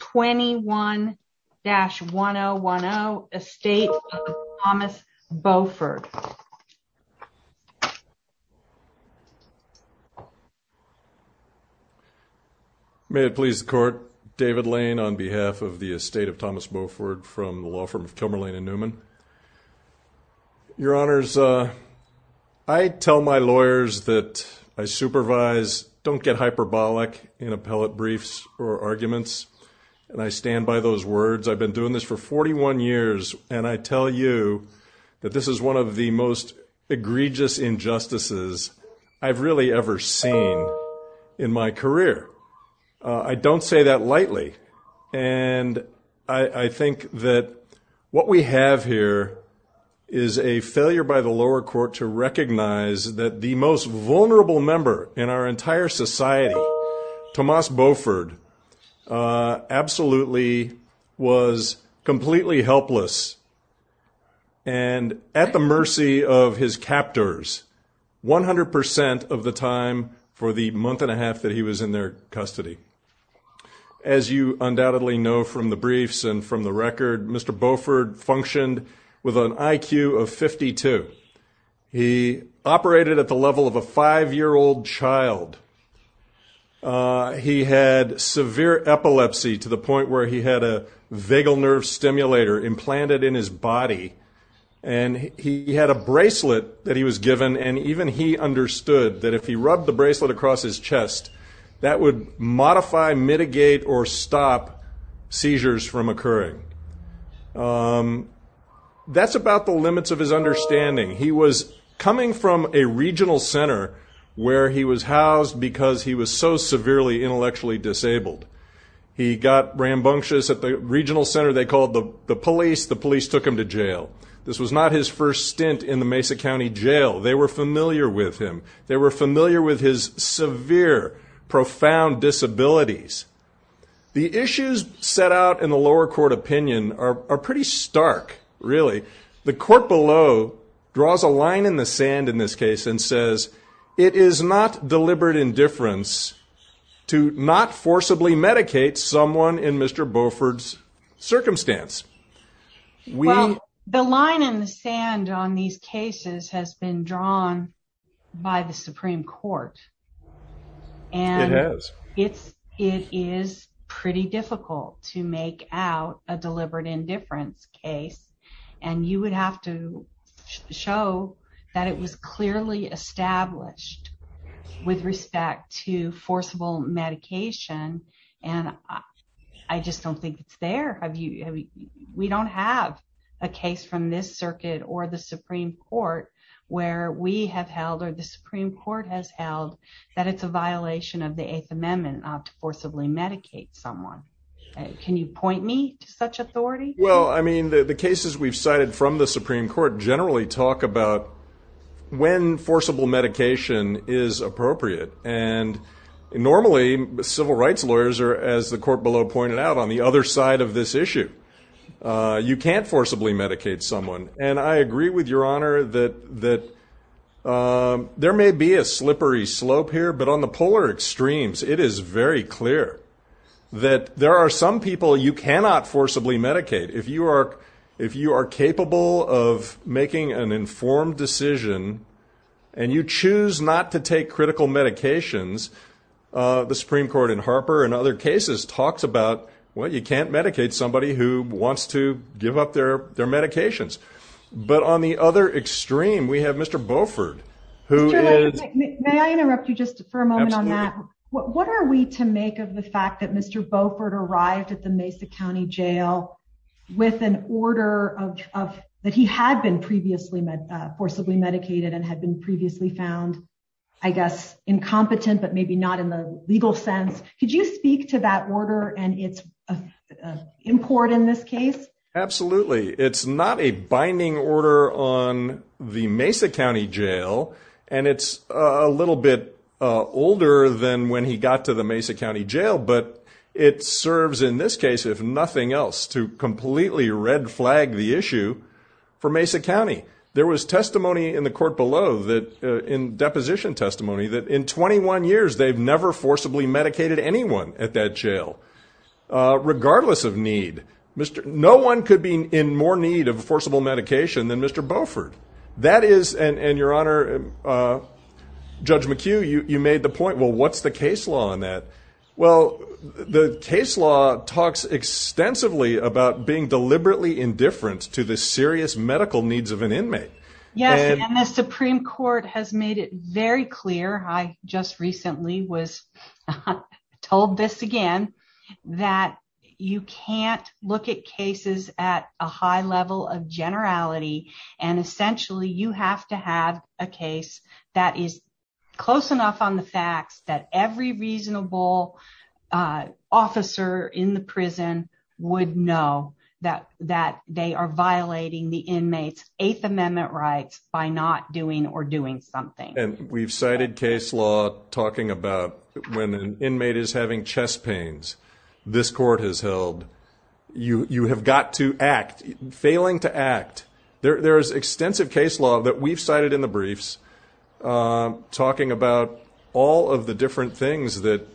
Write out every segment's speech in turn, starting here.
21-1010 Estate of Tomas Beauford May it please the court, David Lane on behalf of the Estate of Tomas Beauford from the law firm of Kilmer, Lane & Newman. Your honors, I tell my lawyers that I supervise, don't get hyperbolic in appellate briefs or arguments, and I stand by those words. I've been doing this for 41 years, and I tell you that this is one of the most egregious injustices I've really ever seen in my career. I don't say that lightly, and I think that what we have here is a failure by the lower absolutely was completely helpless, and at the mercy of his captors, 100% of the time for the month and a half that he was in their custody. As you undoubtedly know from the briefs and from the record, Mr. Beauford functioned with had severe epilepsy to the point where he had a vagal nerve stimulator implanted in his body, and he had a bracelet that he was given, and even he understood that if he rubbed the bracelet across his chest, that would modify, mitigate, or stop seizures from occurring. That's about the limits of his understanding. He was coming from a regional center where he was housed because he was so severely intellectually disabled. He got rambunctious at the regional center. They called the police. The police took him to jail. This was not his first stint in the Mesa County Jail. They were familiar with him. They were familiar with his severe, profound disabilities. The issues set out in the lower court opinion are pretty stark, really. The court below draws a line in the sand in this case and says, it is not deliberate indifference to not forcibly medicate someone in Mr. Beauford's circumstance. Well, the line in the sand on these cases has been drawn by the Supreme Court, and it is pretty difficult to make out a deliberate indifference case, and you would have to show that it was clearly established with respect to forcible medication. I just don't think it's there. We don't have a case from this circuit or the Supreme Court where we have held or the Supreme Court has held that it's a violation of the Eighth Amendment to forcibly medicate someone. Can you point me to such authority? The cases we've cited from the Supreme Court generally talk about when forcible medication is appropriate. Normally, civil rights lawyers are, as the court below pointed out, on the other side of this issue. You can't forcibly medicate someone. I agree with Your Honor that there may be a slippery slope here, but on the polar extremes, it is very clear that there are some people you cannot forcibly medicate. If you are capable of making an informed decision and you choose not to take critical medications, the Supreme Court in Harper and other cases talks about, well, you can't medicate somebody who wants to give up their medications. But on the other extreme, we have Mr. Beauford, who is- Mr. Beauford arrived at the Mesa County Jail with an order that he had been previously forcibly medicated and had been previously found, I guess, incompetent, but maybe not in the legal sense. Could you speak to that order and its import in this case? Absolutely. It's not a binding order on the Mesa County Jail, and it's a little bit older than when he got to the Mesa County Jail, but it serves in this case, if nothing else, to completely red flag the issue for Mesa County. There was testimony in the court below that- in deposition testimony, that in 21 years, they've never forcibly medicated anyone at that jail, regardless of need. No one could be in more need of forcible medication than Mr. Beauford. That is- and your honor, Judge McHugh, you made the point, well, what's the case law on that? Well, the case law talks extensively about being deliberately indifferent to the serious medical needs of an inmate. Yes, and the Supreme Court has made it very clear, I just recently was told this again, that you can't look at cases at a high level of generality, and essentially, you have to have a case that is close enough on the facts that every reasonable officer in the prison would know that they are violating the inmate's Eighth Amendment rights by not doing or doing something. We've cited case law talking about when an inmate is having chest pains, this court has held, you have got to act, failing to act. There's extensive case law that we've cited in the briefs talking about all of the different things that-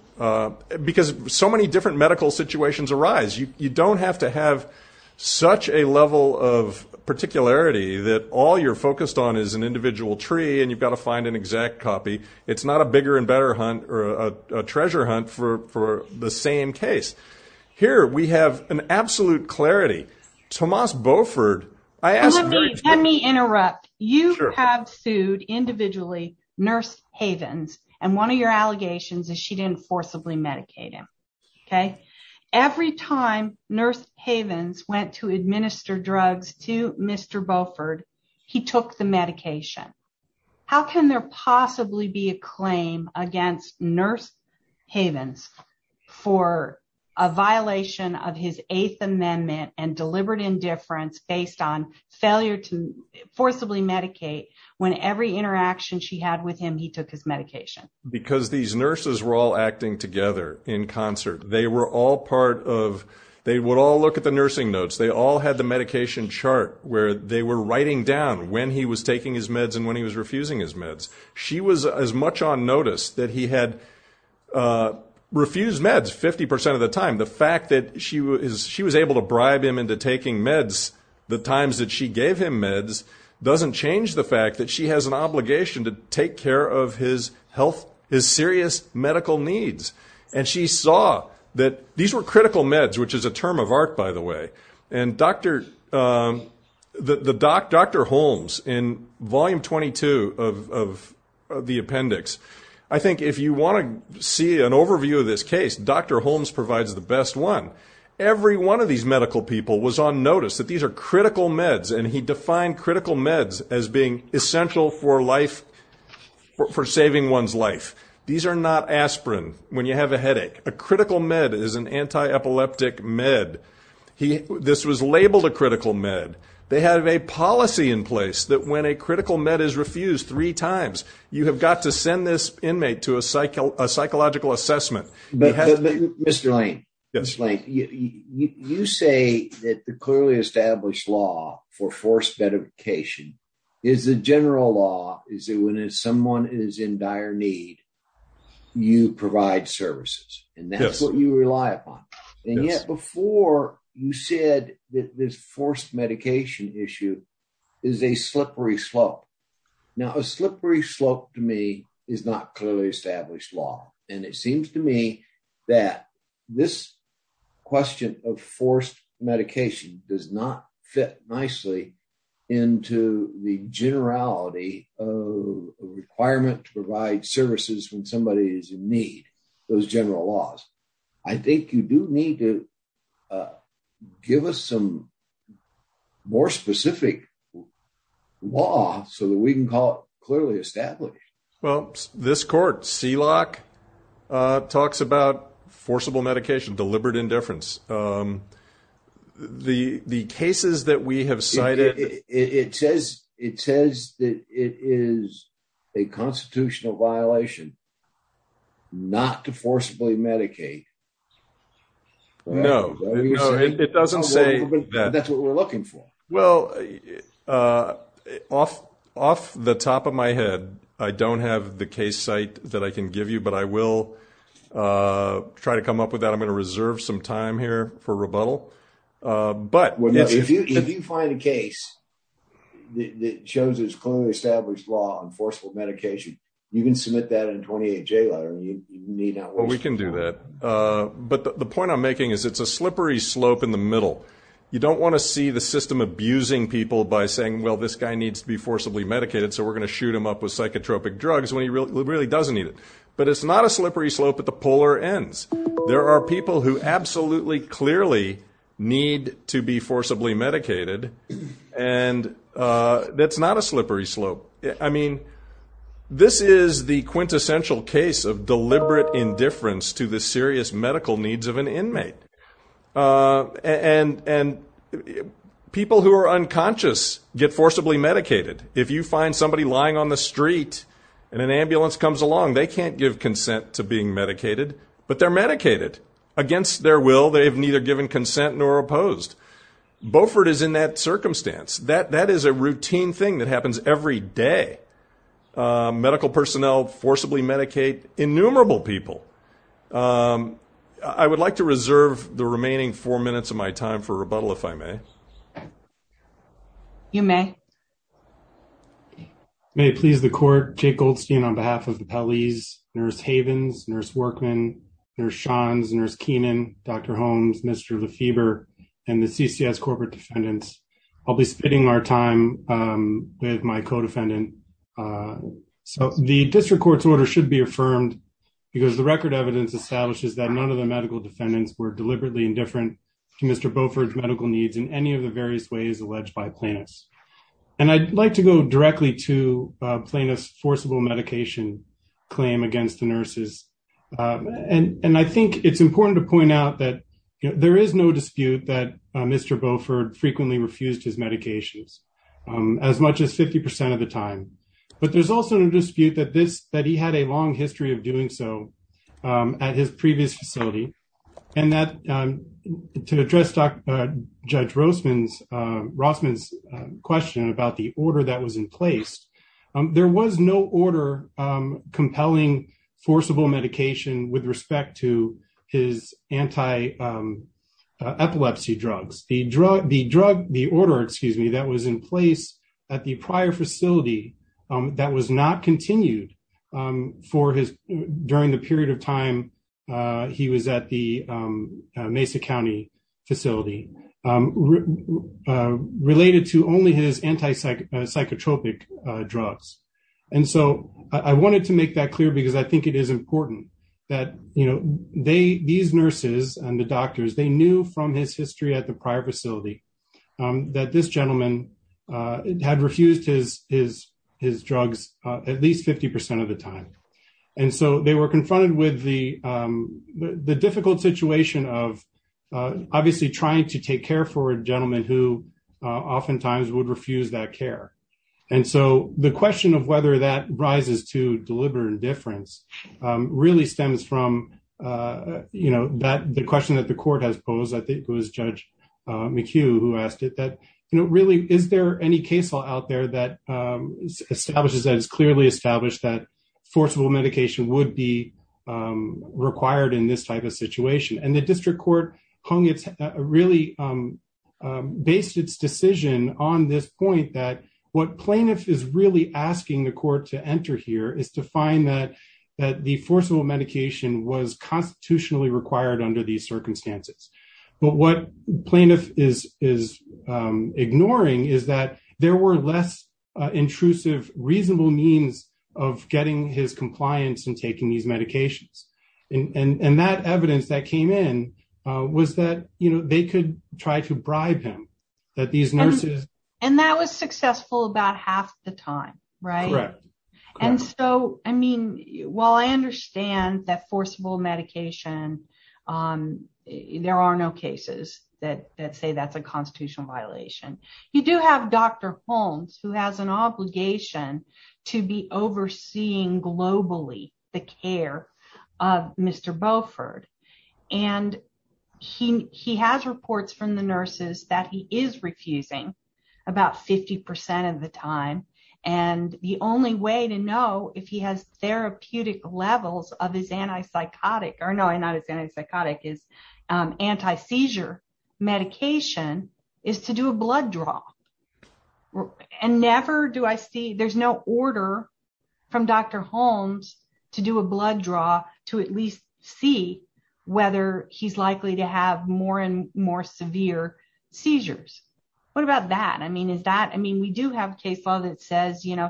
because so many different medical situations arise, you don't have to have such a level of particularity that all you're focused on is an individual tree and you've got to find an exact copy. It's not a bigger and better hunt or a treasure hunt for the same case. Here, we have an absolute clarity. Tomas Beauford, I asked- Let me interrupt. You have sued, individually, Nurse Havens, and one of your allegations is she didn't forcibly medicate him, okay? Every time Nurse Havens went to administer drugs to Mr. Beauford, he took the medication. How can there possibly be a claim against Nurse Havens for a violation of his Eighth Amendment and deliberate indifference based on failure to forcibly medicate when every interaction she had with him, he took his medication? Because these nurses were all acting together in concert. They were all part of- They would all look at the nursing notes. They all had the medication chart where they were writing down when he was taking his meds and when he was refusing his meds. She was as much on notice that he had refused meds 50% of the time. The fact that she was able to bribe him into taking meds the times that she gave him meds doesn't change the fact that she has an obligation to take care of his health, his serious medical needs. She saw that these were critical meds, which is a term of art, by the way. Dr. Holmes, in volume 22 of the appendix, I think if you want to see an overview of this case, Dr. Holmes provides the best one. Every one of these medical people was on notice that these are critical meds, and he defined critical meds as being essential for saving one's life. These are not aspirin when you have a headache. A critical med is an anti-epileptic med. This was labeled a critical med. They have a policy in place that when a critical med is refused three times, you have got to send this inmate to a psychological assessment. Mr. Lane, you say that the clearly established law for forced medication is the general law is that when someone is in dire need, you provide services, and that's what you rely upon. Yet before, you said that this forced medication issue is a slippery slope. Now, a slippery slope to me is not clearly established law, and it seems to me that this question of forced medication does not fit nicely into the generality of a requirement to provide services when somebody is in need, those general laws. I think you do need to give us some more specific law so that we can call it clearly established. Well, this court, SELOC, talks about forcible medication, deliberate indifference. The cases that we have cited- It says that it is a constitutional violation not to forcibly medicate. No, it doesn't say that. That's what we're looking for. Well, off the top of my head, I don't have the case site that I can give you, but I will try to come up with that. I'm going to reserve some time here for rebuttal. If you find a case that shows there's clearly established law on forcible medication, you can submit that in a 28-J letter, and you need not- Well, we can do that, but the point I'm making is it's a slippery slope in the middle. You don't want to see the system abusing people by saying, well, this guy needs to be forcibly medicated, so we're going to shoot him up with psychotropic drugs when he really doesn't need it. But it's not a slippery slope at the polar ends. There are people who absolutely clearly need to be forcibly medicated, and that's not a slippery slope. I mean, this is the quintessential case of deliberate indifference to the serious medical needs of an inmate. And people who are unconscious get forcibly medicated. If you find somebody lying on the street and an ambulance comes along, they can't give consent to being medicated, but they're medicated. Against their will, they've neither given consent nor opposed. Beaufort is in that circumstance. That is a routine thing that happens every day. Medical personnel forcibly medicate innumerable people. I would like to reserve the remaining four minutes of my time for rebuttal, if I may. You may. May it please the court, Jake Goldstein on behalf of the Pelley's, Nurse Havens, Nurse Workman, Nurse Shands, Nurse Keenan, Dr. Holmes, Mr. Lefebvre, and the CCS corporate defendants. I'll be spending our time with my co-defendant. The district court's order should be affirmed because the record evidence establishes that none of the medical defendants were deliberately indifferent to Mr. Beaufort's medical needs in any of the various ways alleged by plaintiffs. And I'd like to go directly to plaintiff's forcible medication claim against the nurses. And I think it's important to point out that there is no that Mr. Beaufort frequently refused his medications as much as 50% of the time. But there's also no dispute that he had a long history of doing so at his previous facility. And to address Judge Rossman's question about the order that was in place, there was no order compelling forcible medication with respect to his anti-epilepsy drugs. The order that was in place at the prior facility that was not continued during the period of time he was at the Mesa County facility related to only his anti-psychotropic drugs. And so I wanted to make that clear because I think it is important that these nurses and the doctors, they knew from his history at the prior facility that this gentleman had refused his drugs at least 50% of the time. And so they were confronted with the difficult situation of obviously trying to take care for a gentleman who oftentimes would refuse that care. And so the question of whether that rises to deliberate indifference really stems from the question that the court has posed, I think it was Judge McHugh who asked it, that really, is there any case law out there that establishes that it's clearly established that forcible medication would be required in this type of situation? And the district court hung its, really based its decision on this point that what plaintiff is really asking the court to enter here is to find that the forcible medication was constitutionally required under these circumstances. But what plaintiff is ignoring is that there were less intrusive, reasonable means of getting his compliance and taking these medications. And that evidence that came in was that they could try to bribe him that these nurses- And that was successful about half the time, right? And so, I mean, while I understand that forcible medication, there are no cases that say that's a constitutional violation, you do have Dr. Holmes, who has an obligation to be overseeing globally the care of Mr. Beauford. And he has reports from the nurses that he is refusing about 50% of the time. And the only way to know if he has therapeutic levels of his anti-psychotic, or no, not his anti-psychotic, his anti-seizure medication is to do a blood draw. And never do I see, there's no order from Dr. Holmes to do a blood draw to at least see whether he's likely to have more and more severe seizures. What about that? I mean, is that, I mean, we do have a case law that says, you know,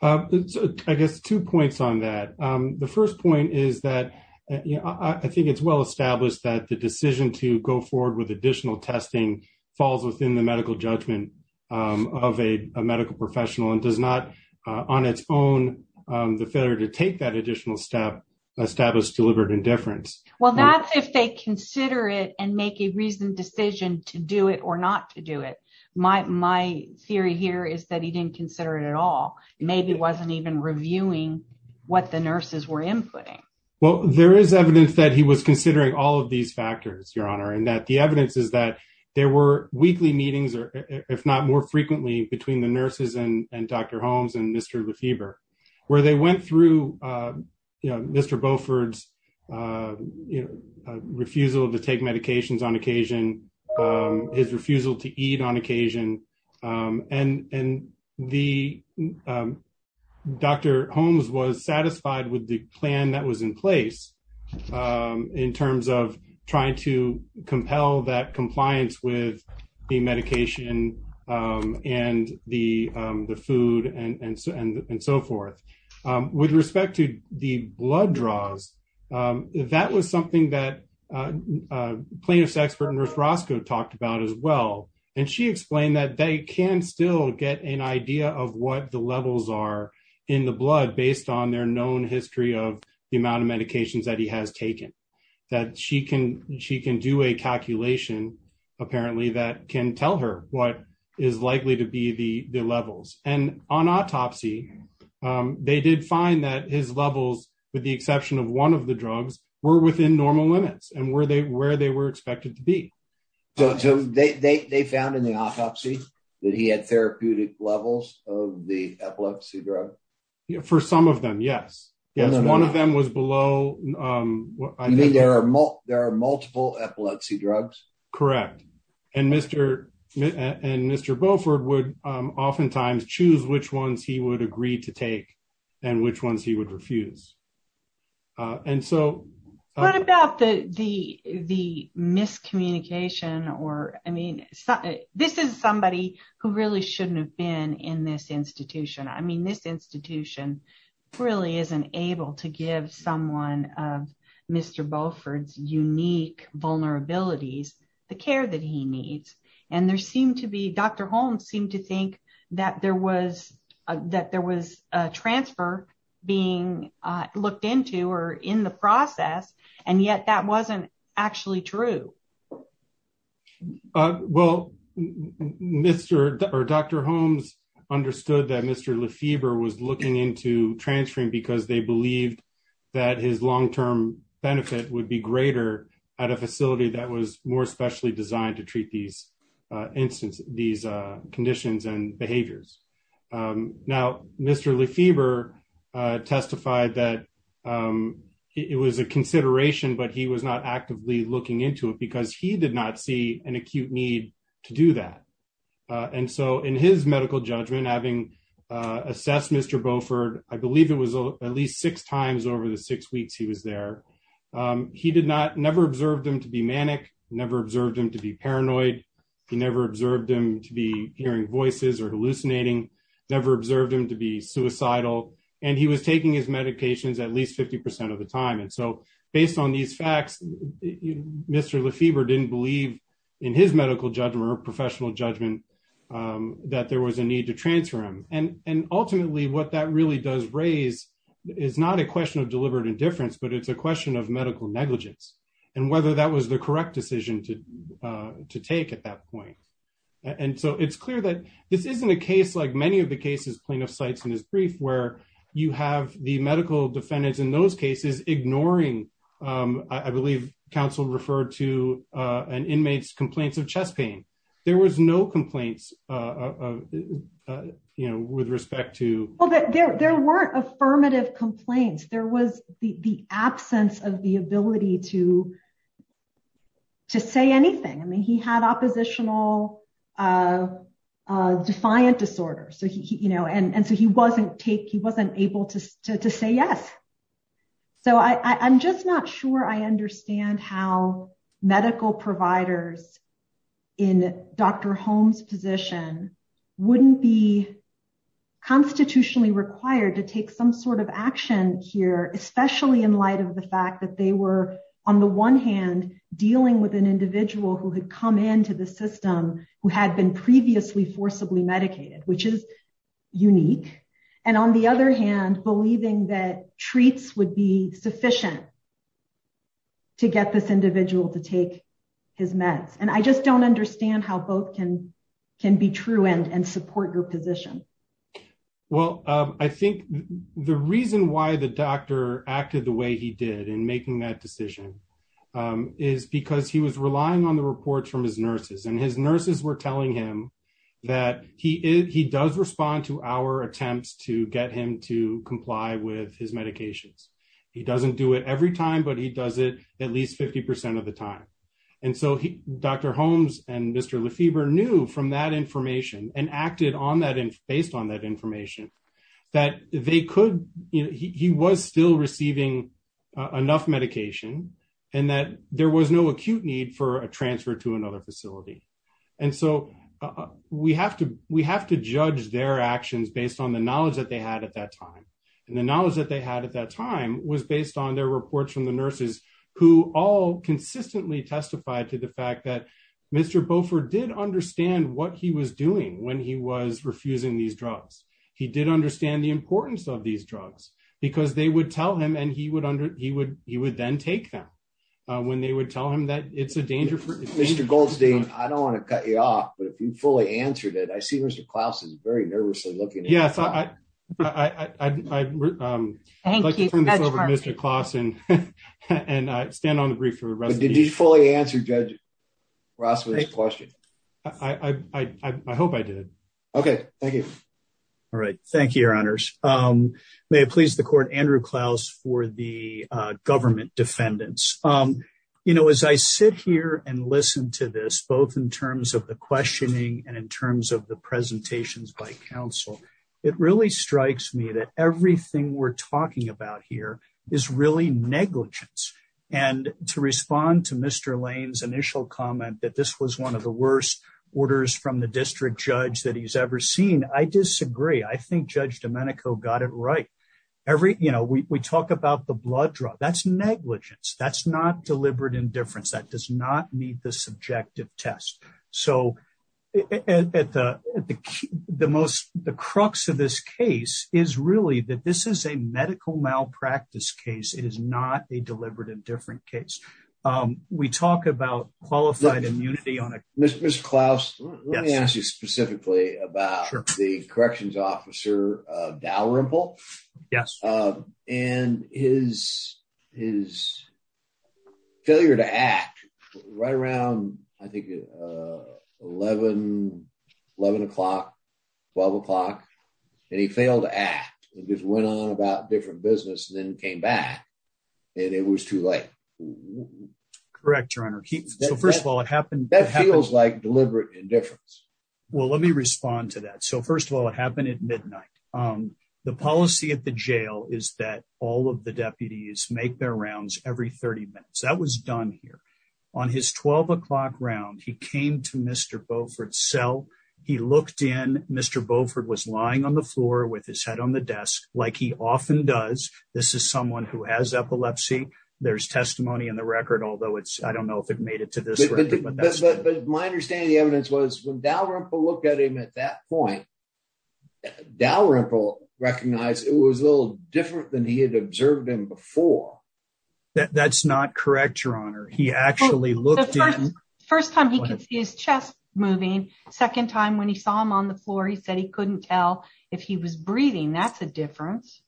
I guess two points on that. The first point is that, you know, I think it's well established that the decision to go forward with additional testing falls within the medical judgment of a medical professional and does not, on its own, the failure to take that additional step establish deliberate indifference. Well, that's if they consider it and make a reasoned decision to do it or not to do it. My theory here is that he didn't consider it at all. Maybe wasn't even reviewing what the nurses were inputting. Well, there is evidence that he was considering all of these factors, Your Honor. And that the evidence is that there were weekly meetings, or if not more frequently between the nurses and Dr. Holmes and Mr. Lefebvre, where they went through, you know, Mr. Beaufort's, you know, refusal to take medications on occasion, his refusal to eat on occasion. And the Dr. Holmes was satisfied with the plan that was in place in terms of trying to compel that compliance with the medication and the food and so forth. With respect to the blood draws, that was something that plaintiff's expert, Nurse Roscoe, talked about as well. And she explained that they can still get an idea of what the levels are in the blood based on their known history of the amount of medications that he has taken. That she can do a calculation, apparently, that can tell her what is likely to be the levels. And on autopsy, they did find that his levels, with the exception of one of the drugs, were within normal limits and where they were expected to be. So they found in the autopsy that he had therapeutic levels of the epilepsy drug? For some of them, yes. Yes, one of them was below... You mean there are multiple epilepsy drugs? Correct. And Mr. Beaufort would oftentimes choose which ones he would agree to take and which ones he would refuse. And so... What about the miscommunication or, I mean, this is somebody who really shouldn't have been in this institution. I mean, this institution really isn't able to give someone of Mr. Beaufort's unique vulnerabilities the care that he needs. And there seemed to be... Dr. Holmes seemed to think that there was a transfer being looked into or in the process, and yet that wasn't actually true. Well, Dr. Holmes understood that Mr. Lefebvre was looking into transferring because they believed that his long-term benefit would be greater at a facility that was more specially designed to treat these conditions and behaviors. Now, Mr. Lefebvre testified that it was a consideration, but he was not actively looking into it because he did not see an acute need to do that. And so in his medical judgment, having assessed Mr. Beaufort, I believe it was at least six times over the six weeks he was there, he never observed him to be manic, never observed him to be paranoid. He never observed him to be hearing voices or hallucinating, never observed him to be suicidal. And he was taking his medications at least 50% of the time. And so based on these facts, Mr. Lefebvre didn't believe in his medical judgment or professional judgment that there was a need to transfer him. And ultimately what that really does raise is not a question of deliberate indifference, but it's a question of medical negligence and whether that was the correct decision to take at that point. And so it's clear that this isn't a case like many of the cases plaintiff cites in his brief where you have the medical defendants in those cases ignoring, I believe counsel referred to an inmate's complaints of chest pain. There was no complaints with respect to- Well, there weren't affirmative complaints. There was the absence of the ability to say anything. I mean, he had oppositional defiant disorder. And so he wasn't able to say yes. So I'm just not sure I understand how medical providers in Dr. Holmes' position wouldn't be constitutionally required to take some sort of action here, especially in light of the fact that they were on the one hand dealing with an individual who had come into the system who had been previously forcibly medicated, which is unique. And on the other hand, believing that treats would be sufficient to get this individual to take his meds. And I just don't understand how both can be true and support your position. Well, I think the reason why the doctor acted the way he did in making that decision is because he was relying on the reports from his nurses and his nurses were telling him that he does respond to our attempts to get him to comply with his medications. He doesn't do it every time, but he does it at least 50% of the time. And so Dr. Holmes and Mr. Lefebvre knew from that information and acted based on that information that he was still receiving enough medication and that there was no acute need for a transfer to another facility. And so we have to judge their actions based on the knowledge that they had at that time. And the knowledge that they had at that time was based on their reports from the nurses who all consistently testified to the fact that Mr. Beaufort did understand what he was doing when he was refusing these drugs. He did understand the importance of these drugs because they would tell him and he would then take them when they would tell him that it's a danger for him. Mr. Goldstein, I don't want to cut you off, but if you fully answered it, I see Mr. Klaus is very nervously looking at you. Yes, I'd like to turn this over to Mr. Klaus and stand on the brief for the rest of the meeting. Did you fully answer Judge Rossman's question? I hope I did. Okay, thank you. All right, thank you, Your Honors. May it please the Court, Andrew Klaus for the government defendants. You know, as I sit here and listen to this, both in terms of the questioning and in terms of the presentations by counsel, it really strikes me that everything we're talking about here is really negligence. And to respond to Mr. Lane's initial comment that this was one of the worst orders from the district judge that he's ever seen, I disagree. I think Judge Domenico got it right. Every, you know, we talk about the blood drug. That's negligence. That's not deliberate indifference. That does not meet the subjective test. So at the most, the crux of this case is really that this is a medical malpractice case. It is not a deliberate indifference case. We talk about qualified immunity on it. Mr. Klaus, let me ask you specifically about the corrections officer, Dalrymple. Yes. And his failure to act right around, I think, 11, 11 o'clock, 12 o'clock, and he failed to act and just went on about different business and then came back and it was too late. Correct, Your Honor. So first of all, it happened. That feels like deliberate indifference. Well, let me respond to that. So first of all, it happened at midnight. The policy at the jail is that all of the deputies make their rounds every 30 minutes. That was done here. On his 12 o'clock round, he came to Mr. Beaufort's cell. He looked in. Mr. Beaufort was lying on the floor with his head on the desk like he often does. This is someone who has epilepsy. There's testimony in the record, although it's, I don't know if it made it to this. But my understanding of the evidence was when Dalrymple looked at him at that point, Dalrymple recognized it was a little different than he had observed him before. That's not correct, Your Honor. He actually looked in. First time he could see his chest moving. Second time when he saw him on the floor, he said he couldn't tell if he was breathing. That's a difference.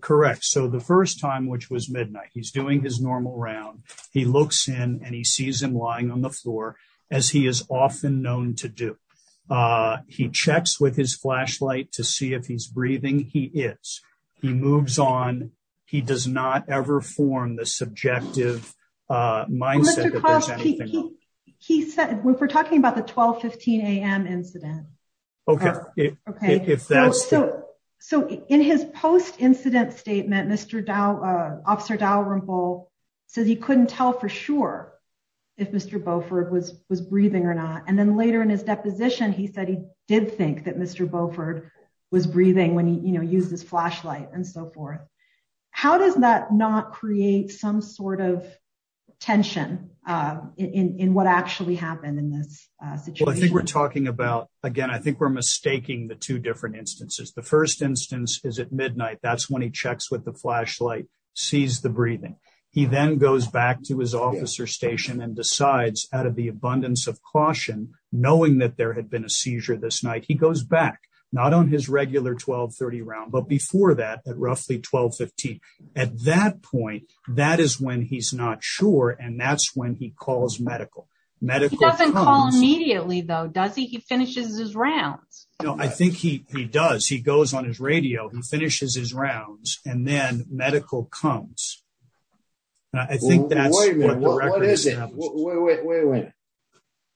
Correct. So the first time, which was midnight, he's doing his normal round. He looks in and he sees him lying on the floor, as he is often known to do. He checks with his flashlight to see if he's breathing. He is. He moves on. He does not form the subjective mindset. We're talking about the 12, 15 a.m. incident. So in his post-incident statement, Officer Dalrymple says he couldn't tell for sure if Mr. Beaufort was breathing or not. And then later in his deposition, he said he did think that Mr. Beaufort was breathing when he used his flashlight and so forth. How does that not create some sort of tension in what actually happened in this situation? Well, I think we're talking about, again, I think we're mistaking the two different instances. The first instance is at midnight. That's when he checks with the flashlight, sees the breathing. He then goes back to his officer station and decides, out of the abundance of caution, knowing that there had been a seizure this night, he goes back, not on his regular 12, 15, but before that at roughly 12, 15. At that point, that is when he's not sure, and that's when he calls medical. He doesn't call immediately, though, does he? He finishes his rounds. No, I think he does. He goes on his radio. He finishes his rounds, and then medical comes. I think that's what the record establishes. Wait a minute.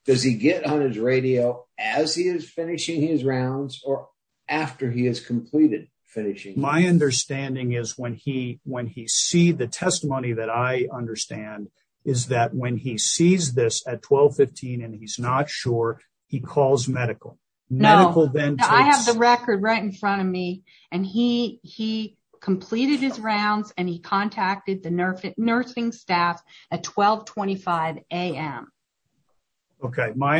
Does he get on his radio as he is completed finishing? My understanding is when he sees the testimony that I understand is that when he sees this at 12, 15 and he's not sure, he calls medical. No. I have the record right in front of me. He completed his rounds, and he contacted the nursing staff at 12, 25 a.m. Okay. My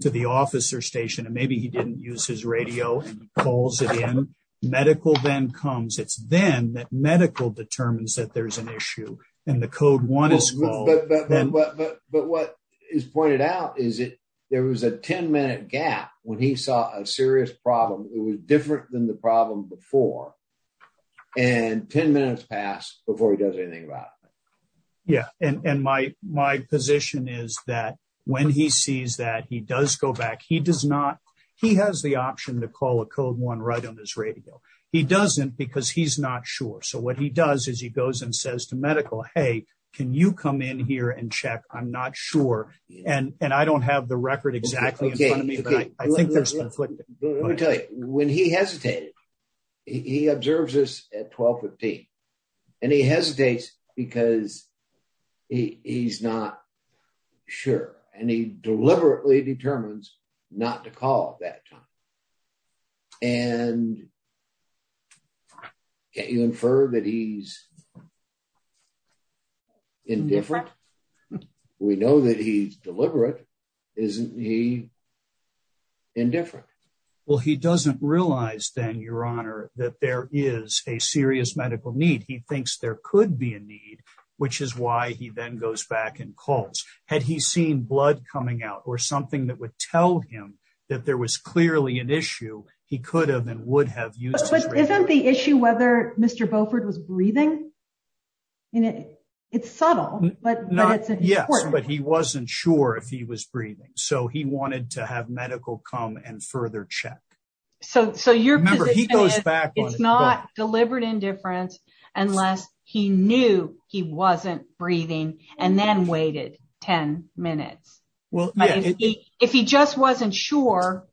to the officer station, and maybe he didn't use his radio, and he calls it in. Medical then comes. It's then that medical determines that there's an issue, and the code one is called. But what is pointed out is that there was a 10-minute gap when he saw a serious problem. It was different than the problem before, and 10 minutes passed before he does anything about it. Yeah, and my position is that when he sees that, he does go back. He does not. He has the option to call a code one right on his radio. He doesn't because he's not sure. So what he does is he goes and says to medical, hey, can you come in here and check? I'm not sure, and I don't have the record exactly in front of me, but I think there's conflict. Let me tell you. When he hesitated, he observes this at 12, 15, and he hesitates because he's not sure, and he deliberately determines not to call at that time, and can't you infer that he's indifferent? We know that he's deliberate. Isn't he indifferent? Well, he doesn't realize then, Your Honor, that there is a serious medical need. He thinks there could be a need, which is why he then goes back and calls. Had he seen blood coming out or something that would tell him that there was clearly an issue, he could have and would have used his radio. But isn't the issue whether Mr. Beaufort was breathing? It's subtle, but it's important. Yes, but he wasn't sure if he was breathing, so he wanted to have medical come and further check. So your position is it's not deliberate indifference unless he knew he wasn't breathing and then waited 10 minutes. If he just wasn't sure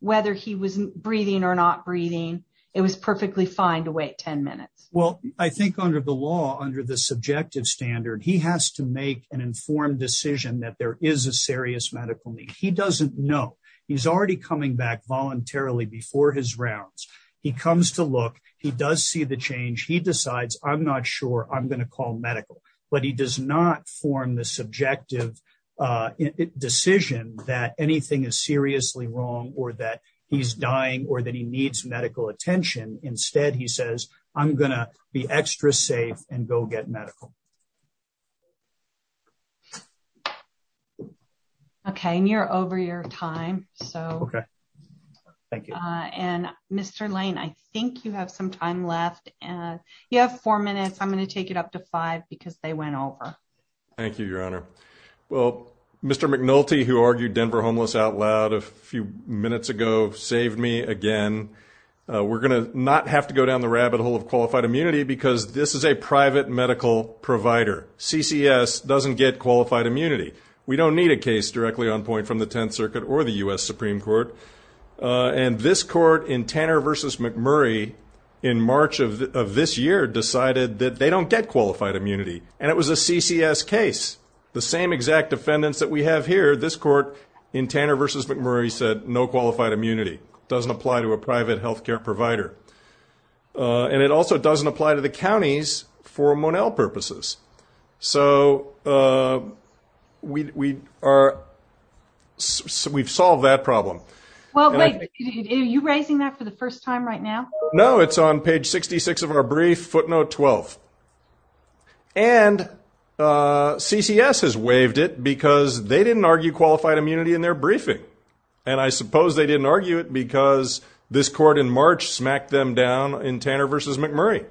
whether he was breathing or not breathing, it was perfectly fine to wait 10 minutes. Well, I think under the law, under the subjective standard, he has to make an informed decision that there is a serious medical need. He doesn't know. He's already coming back voluntarily before his rounds. He comes to look. He does see the change. He decides, I'm not sure I'm going to call medical, but he does not form the subjective decision that anything is seriously wrong or that he's dying or that he needs medical attention. Instead, he says, I'm going to be extra safe and go get medical. OK, and you're over your time, so OK. Thank you. And Mr. Lane, I think you have some time left. And you have four minutes. I'm going to take it up to five because they went over. Thank you, Your Honor. Well, Mr. McNulty, who argued Denver homeless out loud a few minutes ago, saved me again. We're going to not have to go down the rabbit hole of qualified immunity because this is a private medical provider. CCS doesn't get qualified immunity. We don't need a case directly on point from the 10th Circuit or the U.S. Supreme Court. And this court in Tanner versus McMurray in March of this year decided that they don't get qualified immunity. And it was a CCS case, the same exact defendants that we have here. This court in Tanner versus McMurray said no qualified immunity doesn't apply to a private health care provider. And it also doesn't apply to the counties for Monell purposes. So we are. We've solved that problem. Well, are you raising that for the first time right now? No, it's on page 66 of our brief footnote 12. And CCS has waived it because they didn't argue qualified immunity in their briefing. And I suppose they didn't argue it because this court in March smacked them down in Tanner versus McMurray.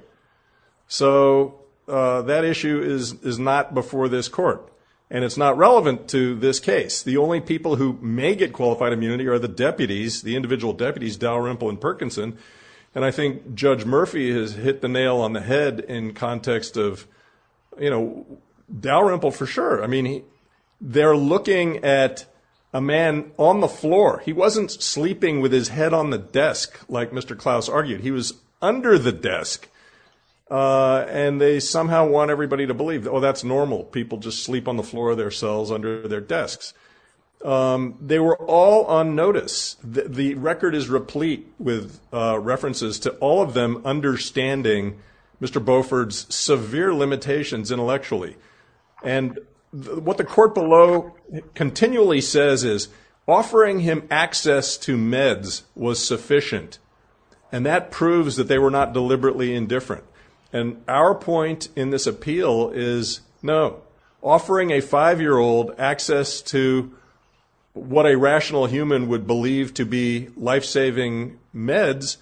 So that issue is is not before this court. And it's not relevant to this case. The only people who may get qualified immunity are the judge Murphy has hit the nail on the head in context of, you know, Dalrymple for sure. I mean, they're looking at a man on the floor. He wasn't sleeping with his head on the desk, like Mr. Klaus argued. He was under the desk. And they somehow want everybody to believe, oh, that's normal. People just sleep on the floor of their cells under their desks. They were all on notice. The record is replete with references to all of them understanding Mr. Beauford's severe limitations intellectually. And what the court below continually says is offering him access to meds was sufficient. And that proves that they were not deliberately indifferent. And our point in this appeal is, no, offering a five year old access to what a rational human would believe to be lifesaving meds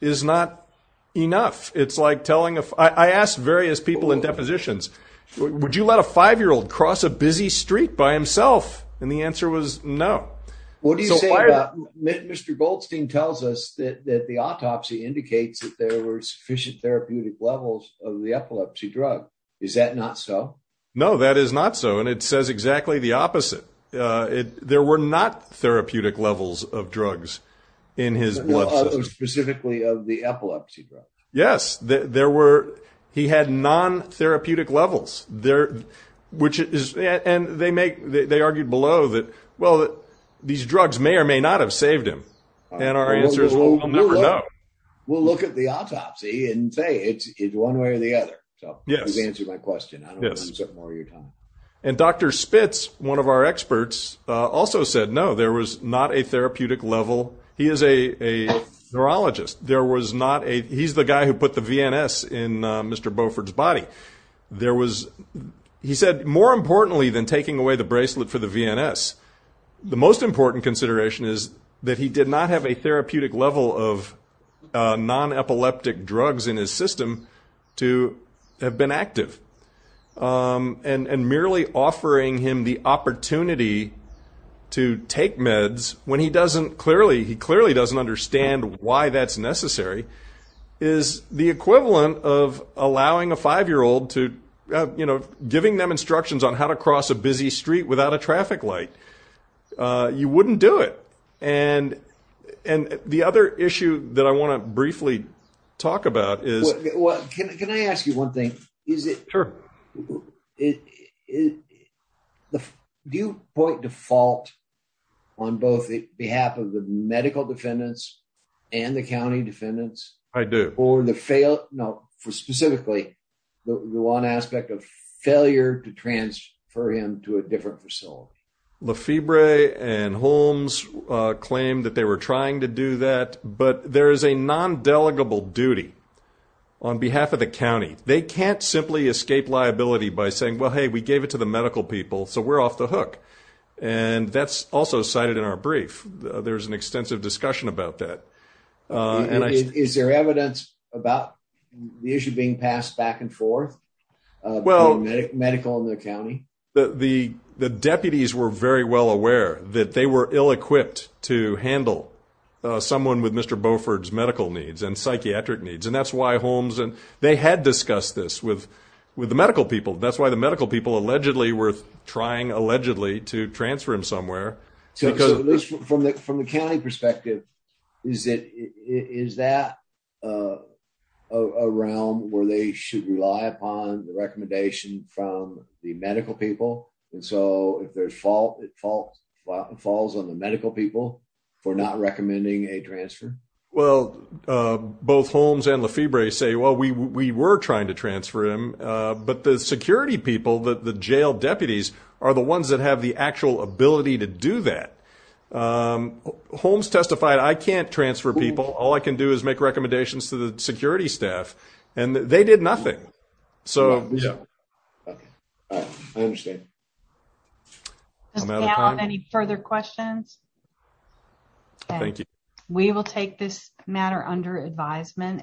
is not enough. It's like telling if I asked various people in depositions, would you let a five year old cross a busy street by himself? And the answer was no. What do you say? Mr. Goldstein tells us that the autopsy indicates that there were sufficient therapeutic levels of the epilepsy drug. Is that not so? No, that is not so. And it says exactly the opposite. There were not therapeutic levels of drugs in his blood system. Specifically of the epilepsy drug? Yes. He had non-therapeutic levels. And they argued below that, well, these drugs may or may not have therapeutic levels. We'll look at the autopsy and say it's one way or the other. And Dr. Spitz, one of our experts, also said, no, there was not a therapeutic level. He is a neurologist. He's the guy who put the VNS in Mr. Beauford's body. He said more importantly than taking away the bracelet for the VNS, the most important consideration is that he did not have therapeutic level of non-epileptic drugs in his system to have been active. And merely offering him the opportunity to take meds when he clearly doesn't understand why that's necessary is the equivalent of allowing a five year old to, giving them instructions on how to cross a busy street without a traffic light. You wouldn't do it. And the other issue that I want to briefly talk about is... Can I ask you one thing? Do you point to fault on both behalf of the medical defendants and the county defendants? I do. No, specifically the one aspect of failure to transfer him to a different facility. Lefebvre and Holmes claimed that they were trying to do that, but there is a non-delegable duty on behalf of the county. They can't simply escape liability by saying, well, hey, we gave it to the medical people, so we're off the hook. And that's also cited in our brief. There's an extensive discussion about that. Is there evidence about the issue being passed back and forth? Well, the deputies were very well aware that they were ill-equipped to handle someone with Mr. Beauford's medical needs and psychiatric needs. And that's why Holmes and they had discussed this with the medical people. That's why the medical people allegedly were trying to transfer him somewhere. So from the county perspective, is that a realm where they should rely upon the recommendation from the medical people? And so if there's fault, it falls on the medical people for not recommending a transfer? Well, both Holmes and Lefebvre say, well, we were trying to transfer him, but the security people, the jail deputies, are the ones that have the actual ability to do that. Holmes testified, I can't transfer people. All I can do is make recommendations to the security staff, and they did nothing. So, yeah. Okay. I understand. Any further questions? Thank you. We will take this matter under advisement.